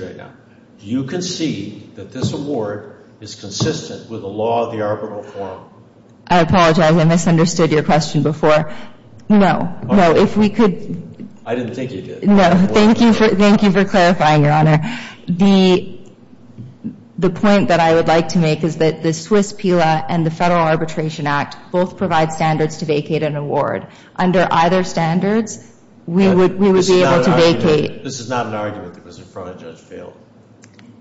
right now. Do you concede that this award is consistent with the law of the arbitral forum? I apologize I misunderstood your question before. No, no if we could. I didn't think you did. No thank you for thank you for clarifying your honor. The the point that I would like to make is that the Swiss PILA and the Federal Arbitration Act both provide standards to vacate an award. Under either standards we would we would be able to vacate. This is not an argument that was in fail.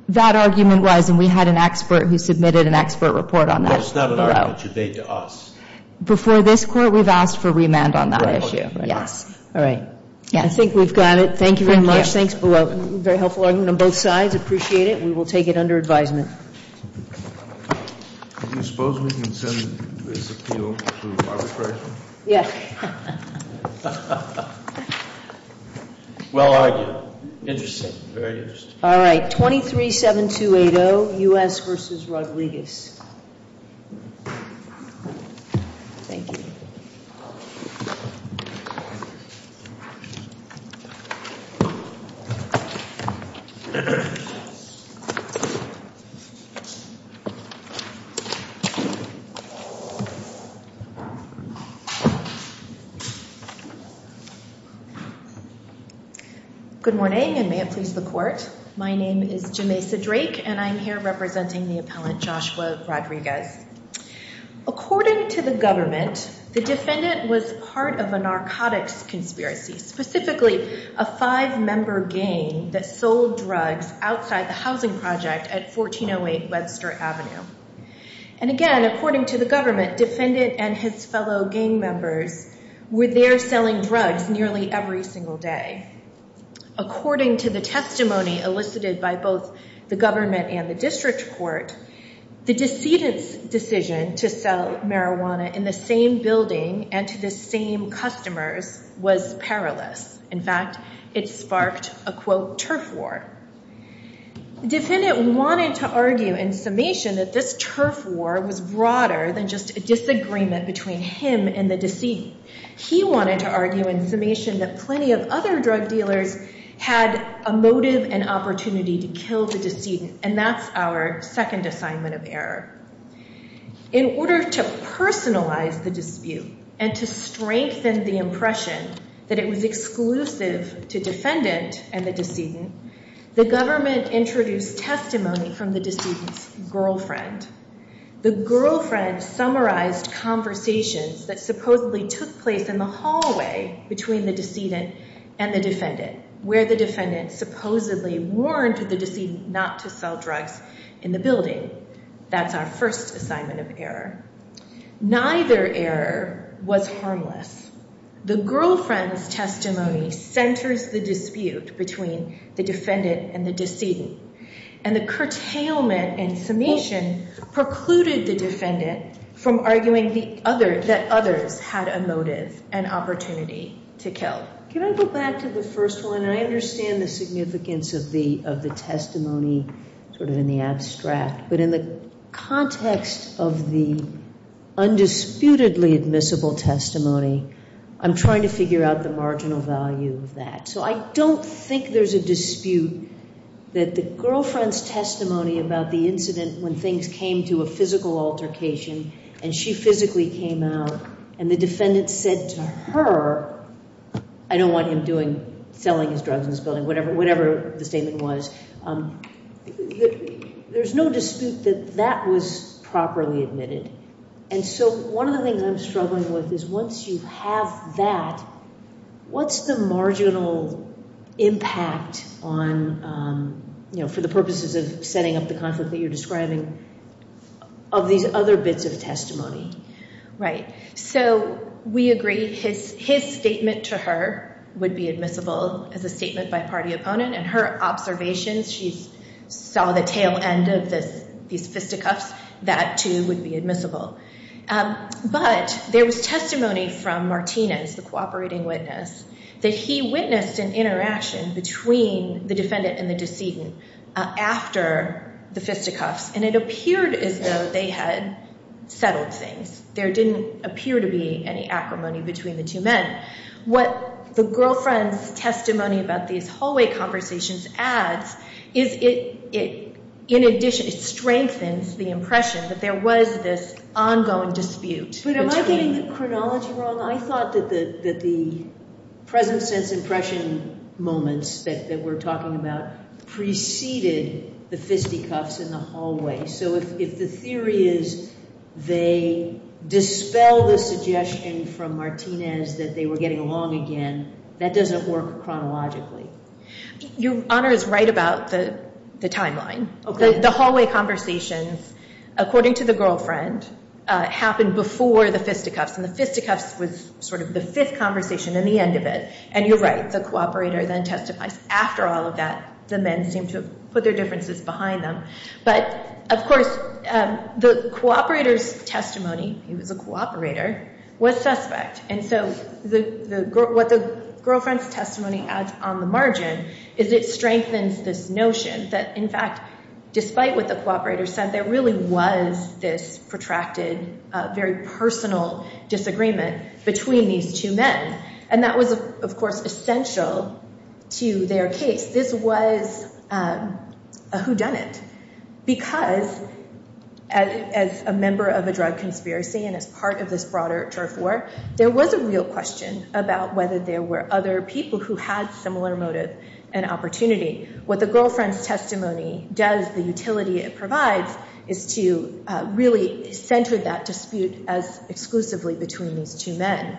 That argument was and we had an expert who submitted an expert report on that. It's not an argument you made to us. Before this court we've asked for remand on that issue. Yes all right. Yeah I think we've got it. Thank you very much. Thanks below. Very helpful argument on both sides. Appreciate it. We will take it under advisement. Do you suppose we can send this to you? Yes. Well argued. Interesting. Very interesting. All right 23-7-2-8-0 U.S. v. Rodriguez. Thank you. Good morning and may it please the court. My name is Jamesa Drake and I'm here representing the appellant Joshua Rodriguez. According to the government, the defendant was part of a narcotics conspiracy, specifically a five-member gang that sold drugs outside the housing project at 1408 Webster Avenue. And again according to the government, defendant and his fellow gang members were there selling drugs nearly every single day. According to the testimony elicited by both the government and the district court, the decedent's decision to sell marijuana in the same building and to the same customers was perilous. In fact it sparked a quote turf war. The defendant wanted to argue in summation that this turf war was broader than just a disagreement between him and the decedent. He wanted to argue in summation that plenty of other drug dealers had a motive and opportunity to kill the decedent and that's our second assignment of error. In order to personalize the dispute and to strengthen the impression that it was exclusive to defendant and the decedent, the government introduced testimony from the decedent's girlfriend. The girlfriend summarized conversations that supposedly took place in the hallway between the decedent and the defendant where the defendant supposedly warned the decedent not to sell drugs in the building. That's our first assignment of error. Neither error was harmless. The dispute between the defendant and the decedent and the curtailment in summation precluded the defendant from arguing that others had a motive and opportunity to kill. Can I go back to the first one? I understand the significance of the of the testimony sort of in the abstract, but in the context of the undisputedly admissible testimony, I'm trying to figure out the marginal value of that. So I don't think there's a dispute that the girlfriend's testimony about the incident when things came to a physical altercation and she physically came out and the defendant said to her, I don't want him selling his drugs in this building, whatever the statement was, there's no dispute that that was properly admitted. And so one of the things I'm struggling with is once you have that, what's the marginal impact for the purposes of setting up the conflict that you're describing of these other bits of testimony? Right. So we agree his statement to her would be admissible as a statement by party opponent and her observations, she saw the tail end of this, these fisticuffs, that too would be admissible. But there was testimony from Martinez, the cooperating witness, that he witnessed an interaction between the defendant and the decedent after the fisticuffs and it appeared as though they had settled things. There didn't appear to be any acrimony between the two men. What the girlfriend's testimony about these hallway conversations adds is it, in addition, it strengthens the impression that there was this ongoing dispute. But am I getting the chronology wrong? I thought that the present sense impression moments that we're talking about preceded the fisticuffs in the hallway. So if the theory is they dispel the suggestion from Martinez that they were getting along again, that doesn't work chronologically. Your Honor is right about the timeline. The hallway conversations, according to the girlfriend, happened before the fisticuffs and the fisticuffs was sort of the fifth conversation and the end of it. And you're right, the cooperator then testifies. After all of that, the men seem to put their differences behind them. But of course, the cooperator's testimony, he was a cooperator, was suspect. And so what the girlfriend's testimony adds on the margin is it strengthens this notion that, in fact, despite what the cooperator said, there really was this protracted, very personal disagreement between these two men. And that was, of course, essential to their case. This was a whodunit. Because as a member of a drug conspiracy and as part of this broader turf war, there was a real question about whether there were other people who had similar motive and opportunity. What the girlfriend's testimony does, the utility it provides, is to really center that dispute as exclusively between these two men.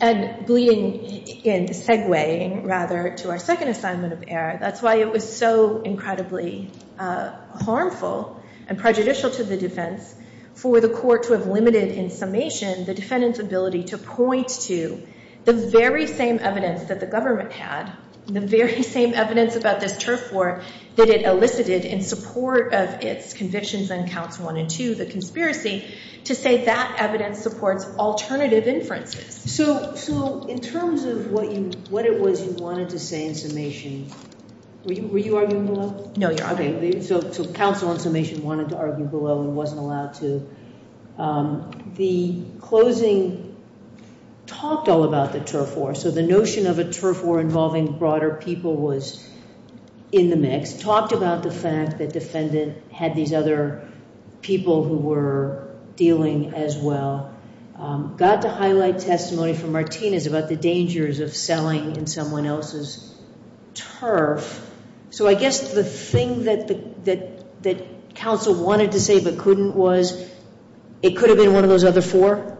And in segueing, rather, to our second assignment of error, that's why it was so incredibly harmful and prejudicial to the defense for the court to have limited in summation the defendant's ability to point to the very same evidence that the government had, the very same evidence about this turf war that it elicited in support of its convictions on counts one and two, the conspiracy, to say that evidence supports alternative inferences. So in terms of what it was you wanted to say in summation, were you arguing below? No, you're arguing below. So counsel in summation wanted to argue below and wasn't allowed to. The closing talked all about the turf war. So the notion of a turf war involving broader people was in the mix, talked about the fact that had these other people who were dealing as well, got to highlight testimony from Martinez about the dangers of selling in someone else's turf. So I guess the thing that counsel wanted to say but couldn't was it could have been one of those other four?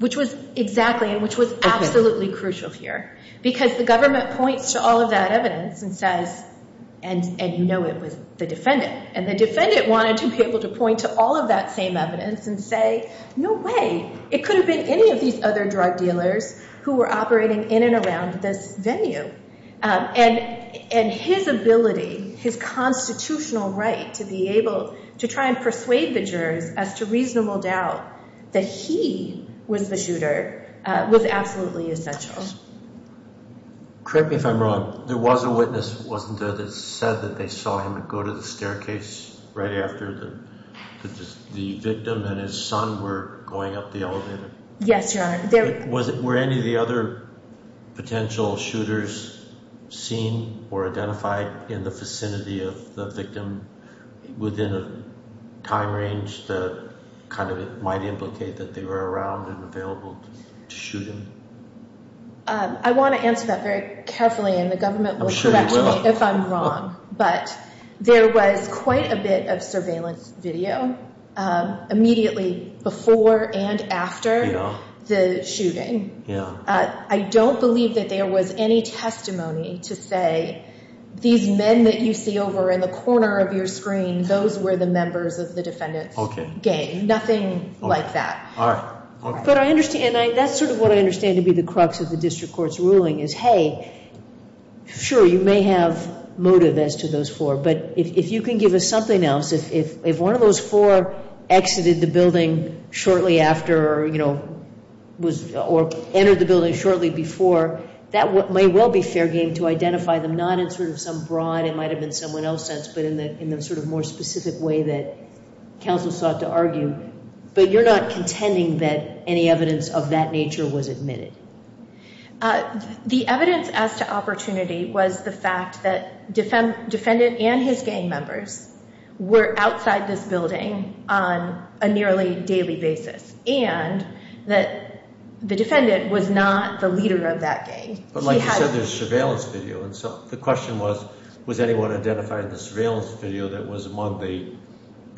Which was exactly and which was absolutely crucial here because the government points to all of that evidence and says, and you know it was the defendant, and the defendant wanted to be able to point to all of that same evidence and say, no way it could have been any of these other drug dealers who were operating in and around this venue. And his ability, his constitutional right to be able to try and persuade the jurors as to reasonable doubt that he was the shooter was absolutely essential. Correct me if I'm wrong, there was a witness wasn't there that said that they saw him go to the staircase right after the victim and his son were going up the elevator? Yes, your honor. Was it were any of the other potential shooters seen or identified in the vicinity of the victim within a time range that kind of might implicate that they were around and available to shoot him? I want to answer that very carefully and the government will correct me if I'm wrong, but there was quite a bit of surveillance video immediately before and after the shooting. I don't believe that there was any testimony to say these men that you see over in the corner of your screen, those were the members of the defendant's gang. Nothing like that. But I understand, that's sort of what I understand to be the crux of the district court's ruling is hey, sure you may have motive as to those four, but if you can give us something else, if one of those four exited the building shortly after or you know was or entered the building shortly before, that may well be fair game to identify them not in sort of some broad, it might have been someone else's sense, but in the sort of more specific way that counsel sought to argue, but you're not contending that any evidence of that nature was admitted? The evidence as to opportunity was the fact that defendant and his gang members were outside this building on a nearly daily basis and that the defendant was not the leader of that gang. But like you said there's surveillance video and so the question was, was anyone identified in the surveillance video that was among the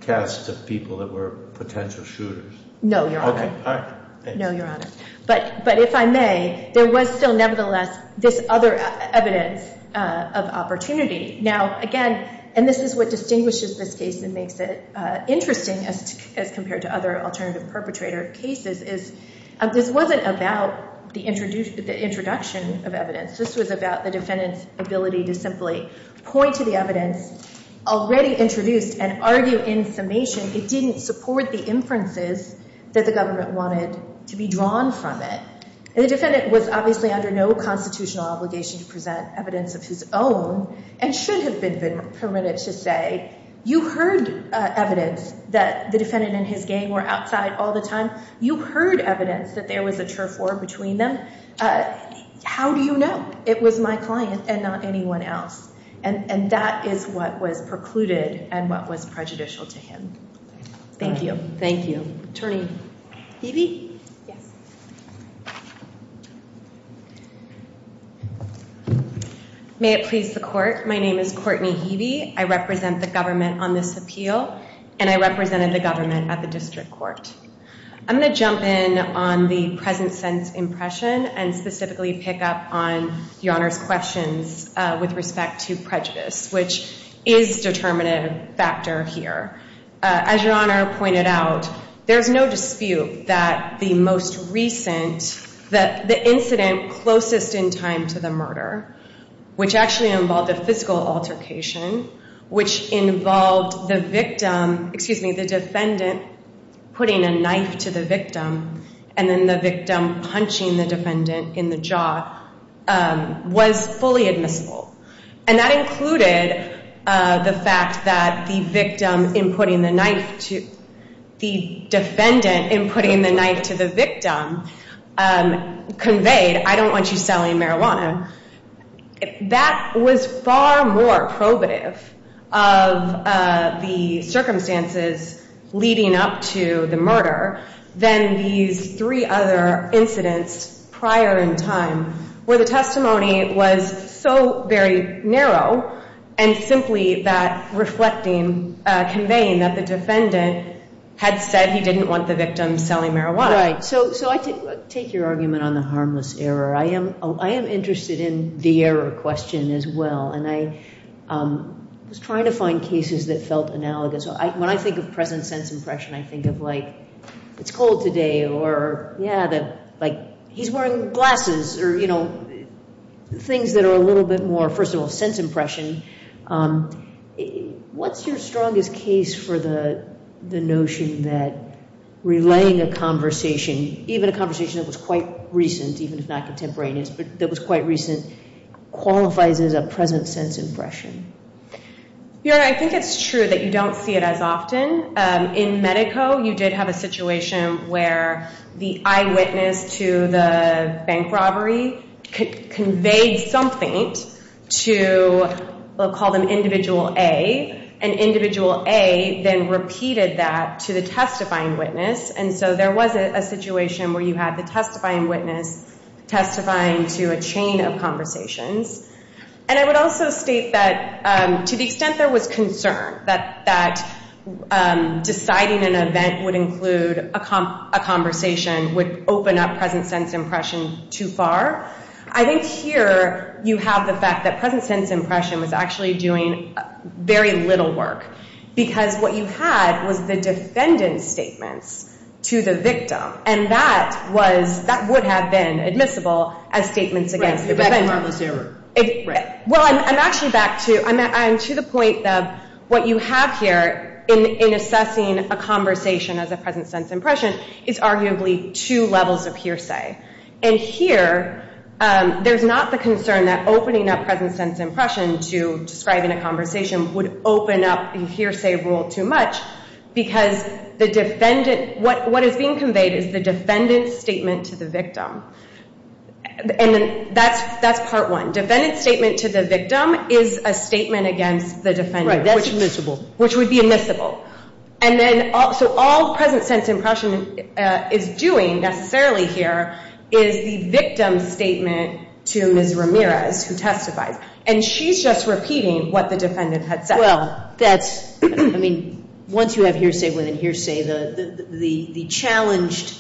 cast of people that were potential shooters? No, your honor. No, your honor. But if I may, there was still nevertheless this other evidence of opportunity. Now again, and this is what distinguishes this case and makes it interesting as compared to other alternative perpetrator cases, is this wasn't about the introduction of evidence. This was about the defendant's ability to simply point to the evidence already introduced and argue in summation it didn't support the inferences that the government wanted to be drawn from it. The defendant was obviously under no constitutional obligation to present evidence of his own and should have been permitted to say, you heard evidence that the defendant and his gang were outside all the time. You heard evidence that there was a turf war between them. How do you know? It was my client and not anyone else and that is what was precluded and what was prejudicial to him. Thank you. Thank you. Attorney Heavey? May it please the court, my name is Courtney Heavey. I represent the government on this appeal and I represented the government at the district court. I'm going to jump in on the present sense impression and specifically pick up on your honor's questions with respect to prejudice, which is a determinative factor here. As your honor pointed out, there's no dispute that the most recent, that the incident closest in time to the murder, which actually involved a physical altercation, which involved the victim, excuse me, the defendant putting a knife to the victim and then the victim punching the defendant in the jaw, was fully admissible. And that included the fact that the victim in putting the knife to, the defendant in putting the knife to the victim conveyed, I don't want you selling marijuana. That was far more probative of the circumstances leading up to the murder than these three other incidents prior in time where the testimony was so very narrow and simply that reflecting, conveying that the defendant had said he didn't want the victim selling marijuana. Right, so I take your argument on the harmless error. I am interested in the error question as well and I was trying to find cases that felt analogous. When I think of present sense impression, I think of like it's cold today or yeah, that like he's wearing glasses or you know things that are a little bit more, first of all, present sense impression. What's your strongest case for the notion that relaying a conversation, even a conversation that was quite recent, even if not contemporaneous, but that was quite recent qualifies as a present sense impression? Your Honor, I think it's true that you don't see it as often. In Medeco, you did have a situation where the eyewitness to the bank robbery conveyed something to, we'll call them individual A, and individual A then repeated that to the testifying witness and so there was a situation where you had the testifying witness testifying to a chain of conversations and I would also state that to the extent there was concern that deciding an event would include a conversation would open up present sense impression too far. I think here you have the fact that present sense impression was actually doing very little work because what you had was the defendant's statements to the victim and that was, that would have been admissible as statements against the defendant. Well, I'm actually back to, I'm to the point that what you have here in assessing a conversation as a present sense impression is arguably two levels of hearsay and here there's not the concern that opening up present sense impression to describing a conversation would open up a hearsay rule too much because the defendant, what is being conveyed is the defendant's statement to the victim and then that's part one. Defendant's statement to the victim is a statement against the defendant. Right, that's admissible. Which would be admissible and then also all present sense impression is doing necessarily here is the victim's statement to Ms. Ramirez who testifies and she's just repeating what the defendant had said. Well, that's, I mean, once you have hearsay within hearsay the challenged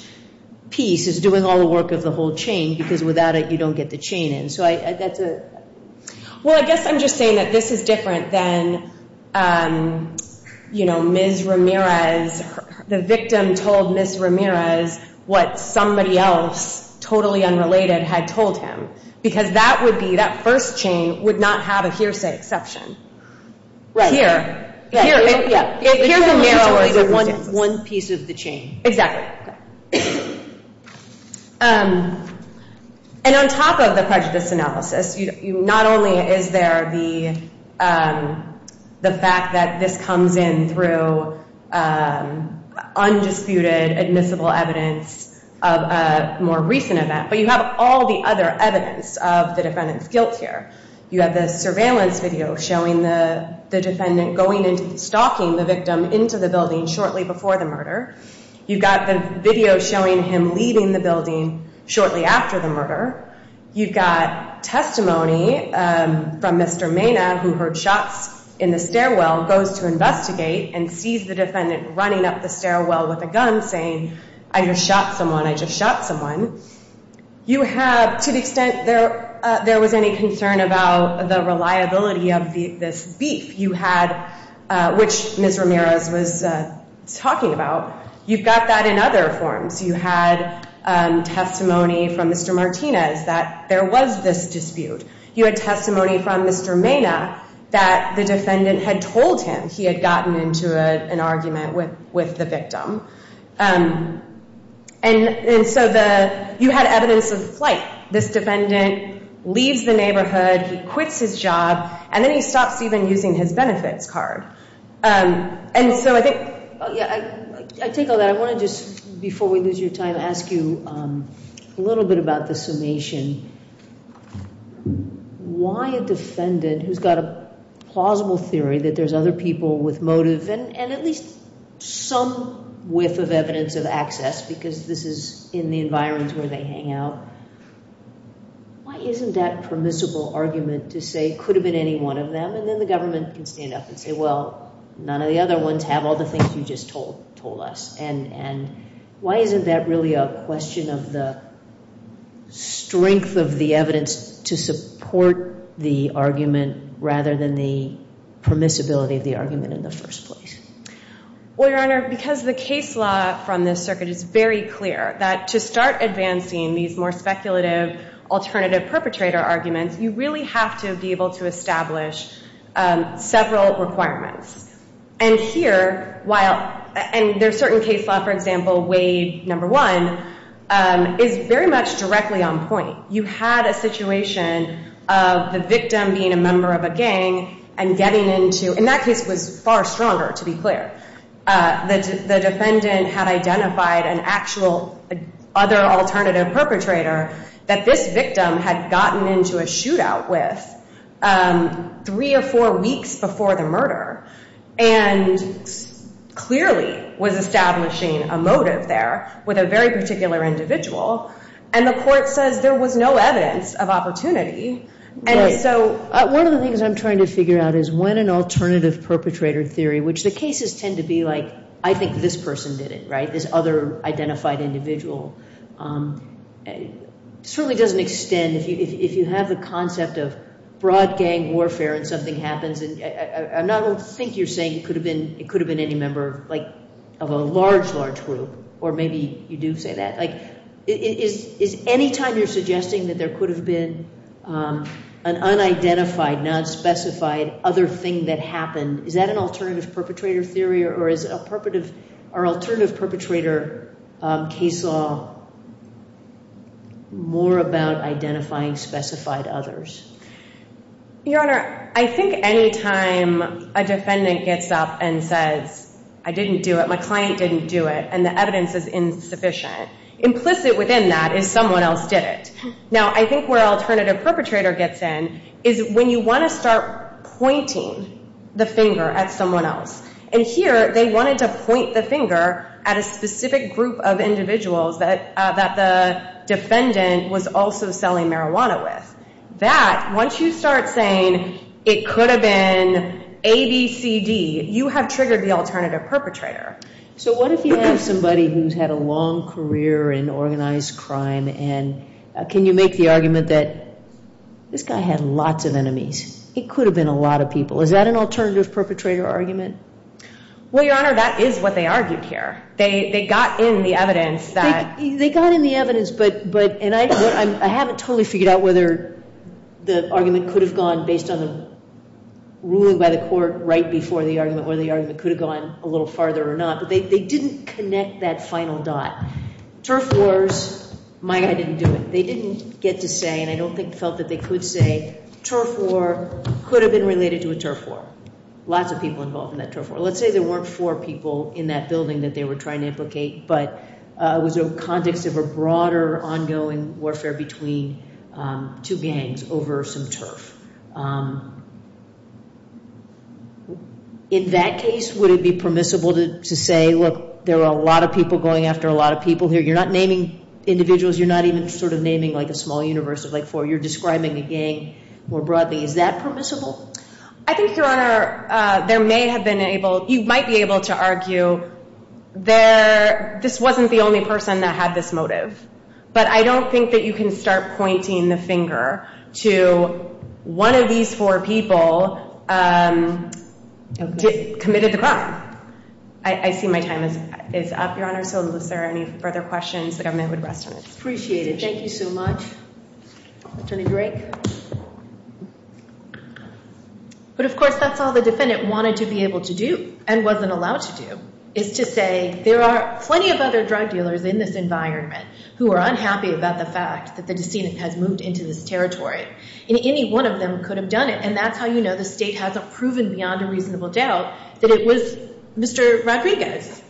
piece is doing all the work of the whole chain because without it you don't get the chain in. Well, I guess I'm just saying that this is different than, you know, Ms. Ramirez, the victim told Ms. Ramirez what somebody else totally unrelated had told him because that would be, that first chain would not have a hearsay exception. Right here, here, yeah, here's only the one piece of the chain. Exactly. And on top of the prejudice analysis, not only is there the fact that this comes in through undisputed admissible evidence of a more recent event, but you have all the other evidence of defendant's guilt here. You have the surveillance video showing the defendant going into, stalking the victim into the building shortly before the murder. You've got the video showing him leaving the building shortly after the murder. You've got testimony from Mr. Maynard who heard shots in the stairwell, goes to investigate and sees the defendant running up the stairwell with a gun saying, I just shot someone, I just shot someone. You have, to the extent there was any concern about the reliability of this beef you had, which Ms. Ramirez was talking about, you've got that in other forms. You had testimony from Mr. Martinez that there was this dispute. You had testimony from Mr. Maynard that the defendant had told him he had gotten into an argument with the victim. And so you had evidence of flight. This defendant leaves the neighborhood, he quits his job, and then he stops even using his benefits card. And so I think, yeah, I take all that. I want to just, before we lose your time, ask you a little bit about the summation. Why a defendant who's got a plausible theory that there's other people with motive and at least some whiff of evidence of access, because this is in the environments where they hang out, why isn't that permissible argument to say, could have been any one of them, and then the government can stand up and say, well, none of the other ones have all the things you just told us? And why isn't that really a question of the strength of the evidence to support the argument rather than the permissibility of the argument in the first place? Well, Your Honor, because the case law from this circuit is very clear that to start advancing these more speculative alternative perpetrator arguments, you really have to be able to establish several requirements. And here, while, and there are certain case law, for example, Wade, number one, is very much directly on point. You had a situation of the victim being a member of a gang and getting into, and that case was far stronger, to be clear. The defendant had identified an actual other alternative perpetrator that this victim had gotten into a shootout with three or four weeks before the murder and clearly was establishing a motive there with a very individual. And the court says there was no evidence of opportunity. One of the things I'm trying to figure out is when an alternative perpetrator theory, which the cases tend to be like, I think this person did it, right, this other identified individual, certainly doesn't extend. If you have the concept of broad gang warfare and something happens, and I'm not going to think you're saying it could have been any member of a large, large gang, is any time you're suggesting that there could have been an unidentified, nonspecified other thing that happened, is that an alternative perpetrator theory or is our alternative perpetrator case law more about identifying specified others? Your Honor, I think any time a defendant gets up and says, I didn't do it, my client didn't do it, and the evidence is insufficient, implicit within that is someone else did it. Now, I think where alternative perpetrator gets in is when you want to start pointing the finger at someone else. And here, they wanted to point the finger at a specific group of individuals that the defendant was also selling marijuana with. That, once you start saying it could have been ABCD, you have triggered the alternative perpetrator. So what if you have somebody who's had a long career in organized crime, and can you make the argument that this guy had lots of enemies? It could have been a lot of people. Is that an alternative perpetrator argument? Well, Your Honor, that is what they argued here. They got in the evidence that... They got in the evidence, but, and I haven't totally figured out whether the argument could have gone, based on the ruling by the court right before the argument, whether the argument could have gone a little farther or not, but they didn't connect that final dot. Turf wars, my guy didn't do it. They didn't get to say, and I don't think felt that they could say, turf war could have been related to a turf war. Lots of people involved in that turf war. Let's say there weren't four people in that building that they were trying to implicate, but it was a context of a broader ongoing warfare between two gangs over some turf. In that case, would it be permissible to say, look, there are a lot of people going after a lot of people here. You're not naming individuals. You're not even naming a small universe of four. You're describing a gang more broadly. Is that permissible? I think, Your Honor, there may have been able... You might be able to argue, this wasn't the only person that had this motive, but I don't think that you can start pointing the finger to one of these four people committed the crime. I see my time is up, Your Honor, so unless there are any further questions, the government would rest on its Thank you so much. Attorney Drake. But of course, that's all the defendant wanted to be able to do and wasn't allowed to do, is to say, there are plenty of other drug dealers in this environment who are unhappy about the fact that the decedent has moved into this territory, and any one of them could have done it, and that's how you know the state hasn't proven beyond a reasonable doubt that it was Mr. Rodriguez.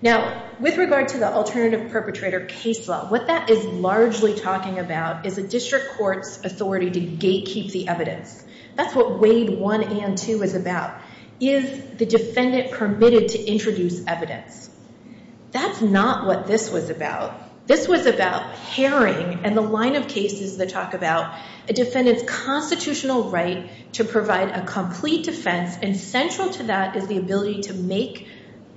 Now, with regard to the alternative perpetrator case law, what that is largely talking about is a district court's authority to gatekeep the evidence. That's what Wade 1 and 2 is about. Is the defendant permitted to introduce evidence? That's not what this was about. This was about pairing and the line of cases that talk about a defendant's constitutional right to provide a complete defense, and central to that is the ability to make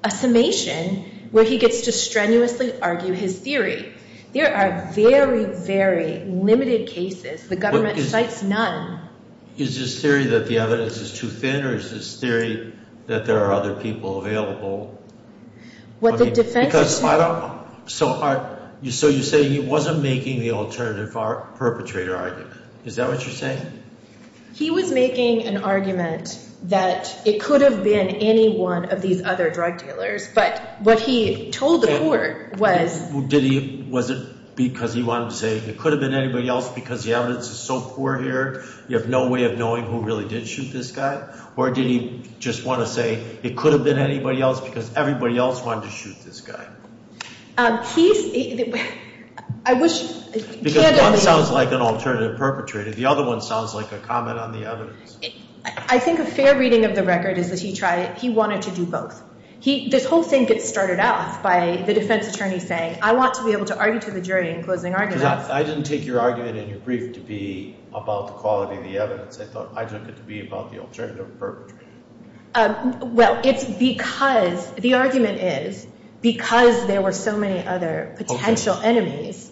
a summation where he gets to strenuously argue his theory. There are very, very limited cases. The government cites none. Is this theory that the evidence is too thin, or is this theory that there are other people available? What the defense... So you say he wasn't making the alternative perpetrator argument. Is that what you're saying? He was making an argument that it could have been any one of these other drug dealers, but what he told the court was... Did he... Was it because he wanted to say it could have been anybody else because the evidence is so poor here, you have no way of knowing who really did shoot this guy, or did he just want to say it could have been anybody else because everybody else wanted to shoot this guy? He's... I wish... Because one sounds like an alternative perpetrator, the other one sounds like a comment on the evidence. I think a fair reading of the record is that he wanted to do both. This whole thing gets started off by the defense attorney saying, I want to be able to argue to the jury in closing arguments. I didn't take your argument in your brief to be about the quality of the evidence. I thought I took it to be about the alternative perpetrator. Well, it's because... The argument is because there were so many other potential enemies,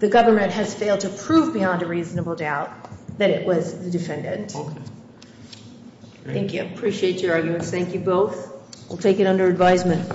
the government has failed to prove beyond a reasonable doubt that it was the defendant. Thank you. Appreciate your arguments. Thank you both. We'll take it under advisement.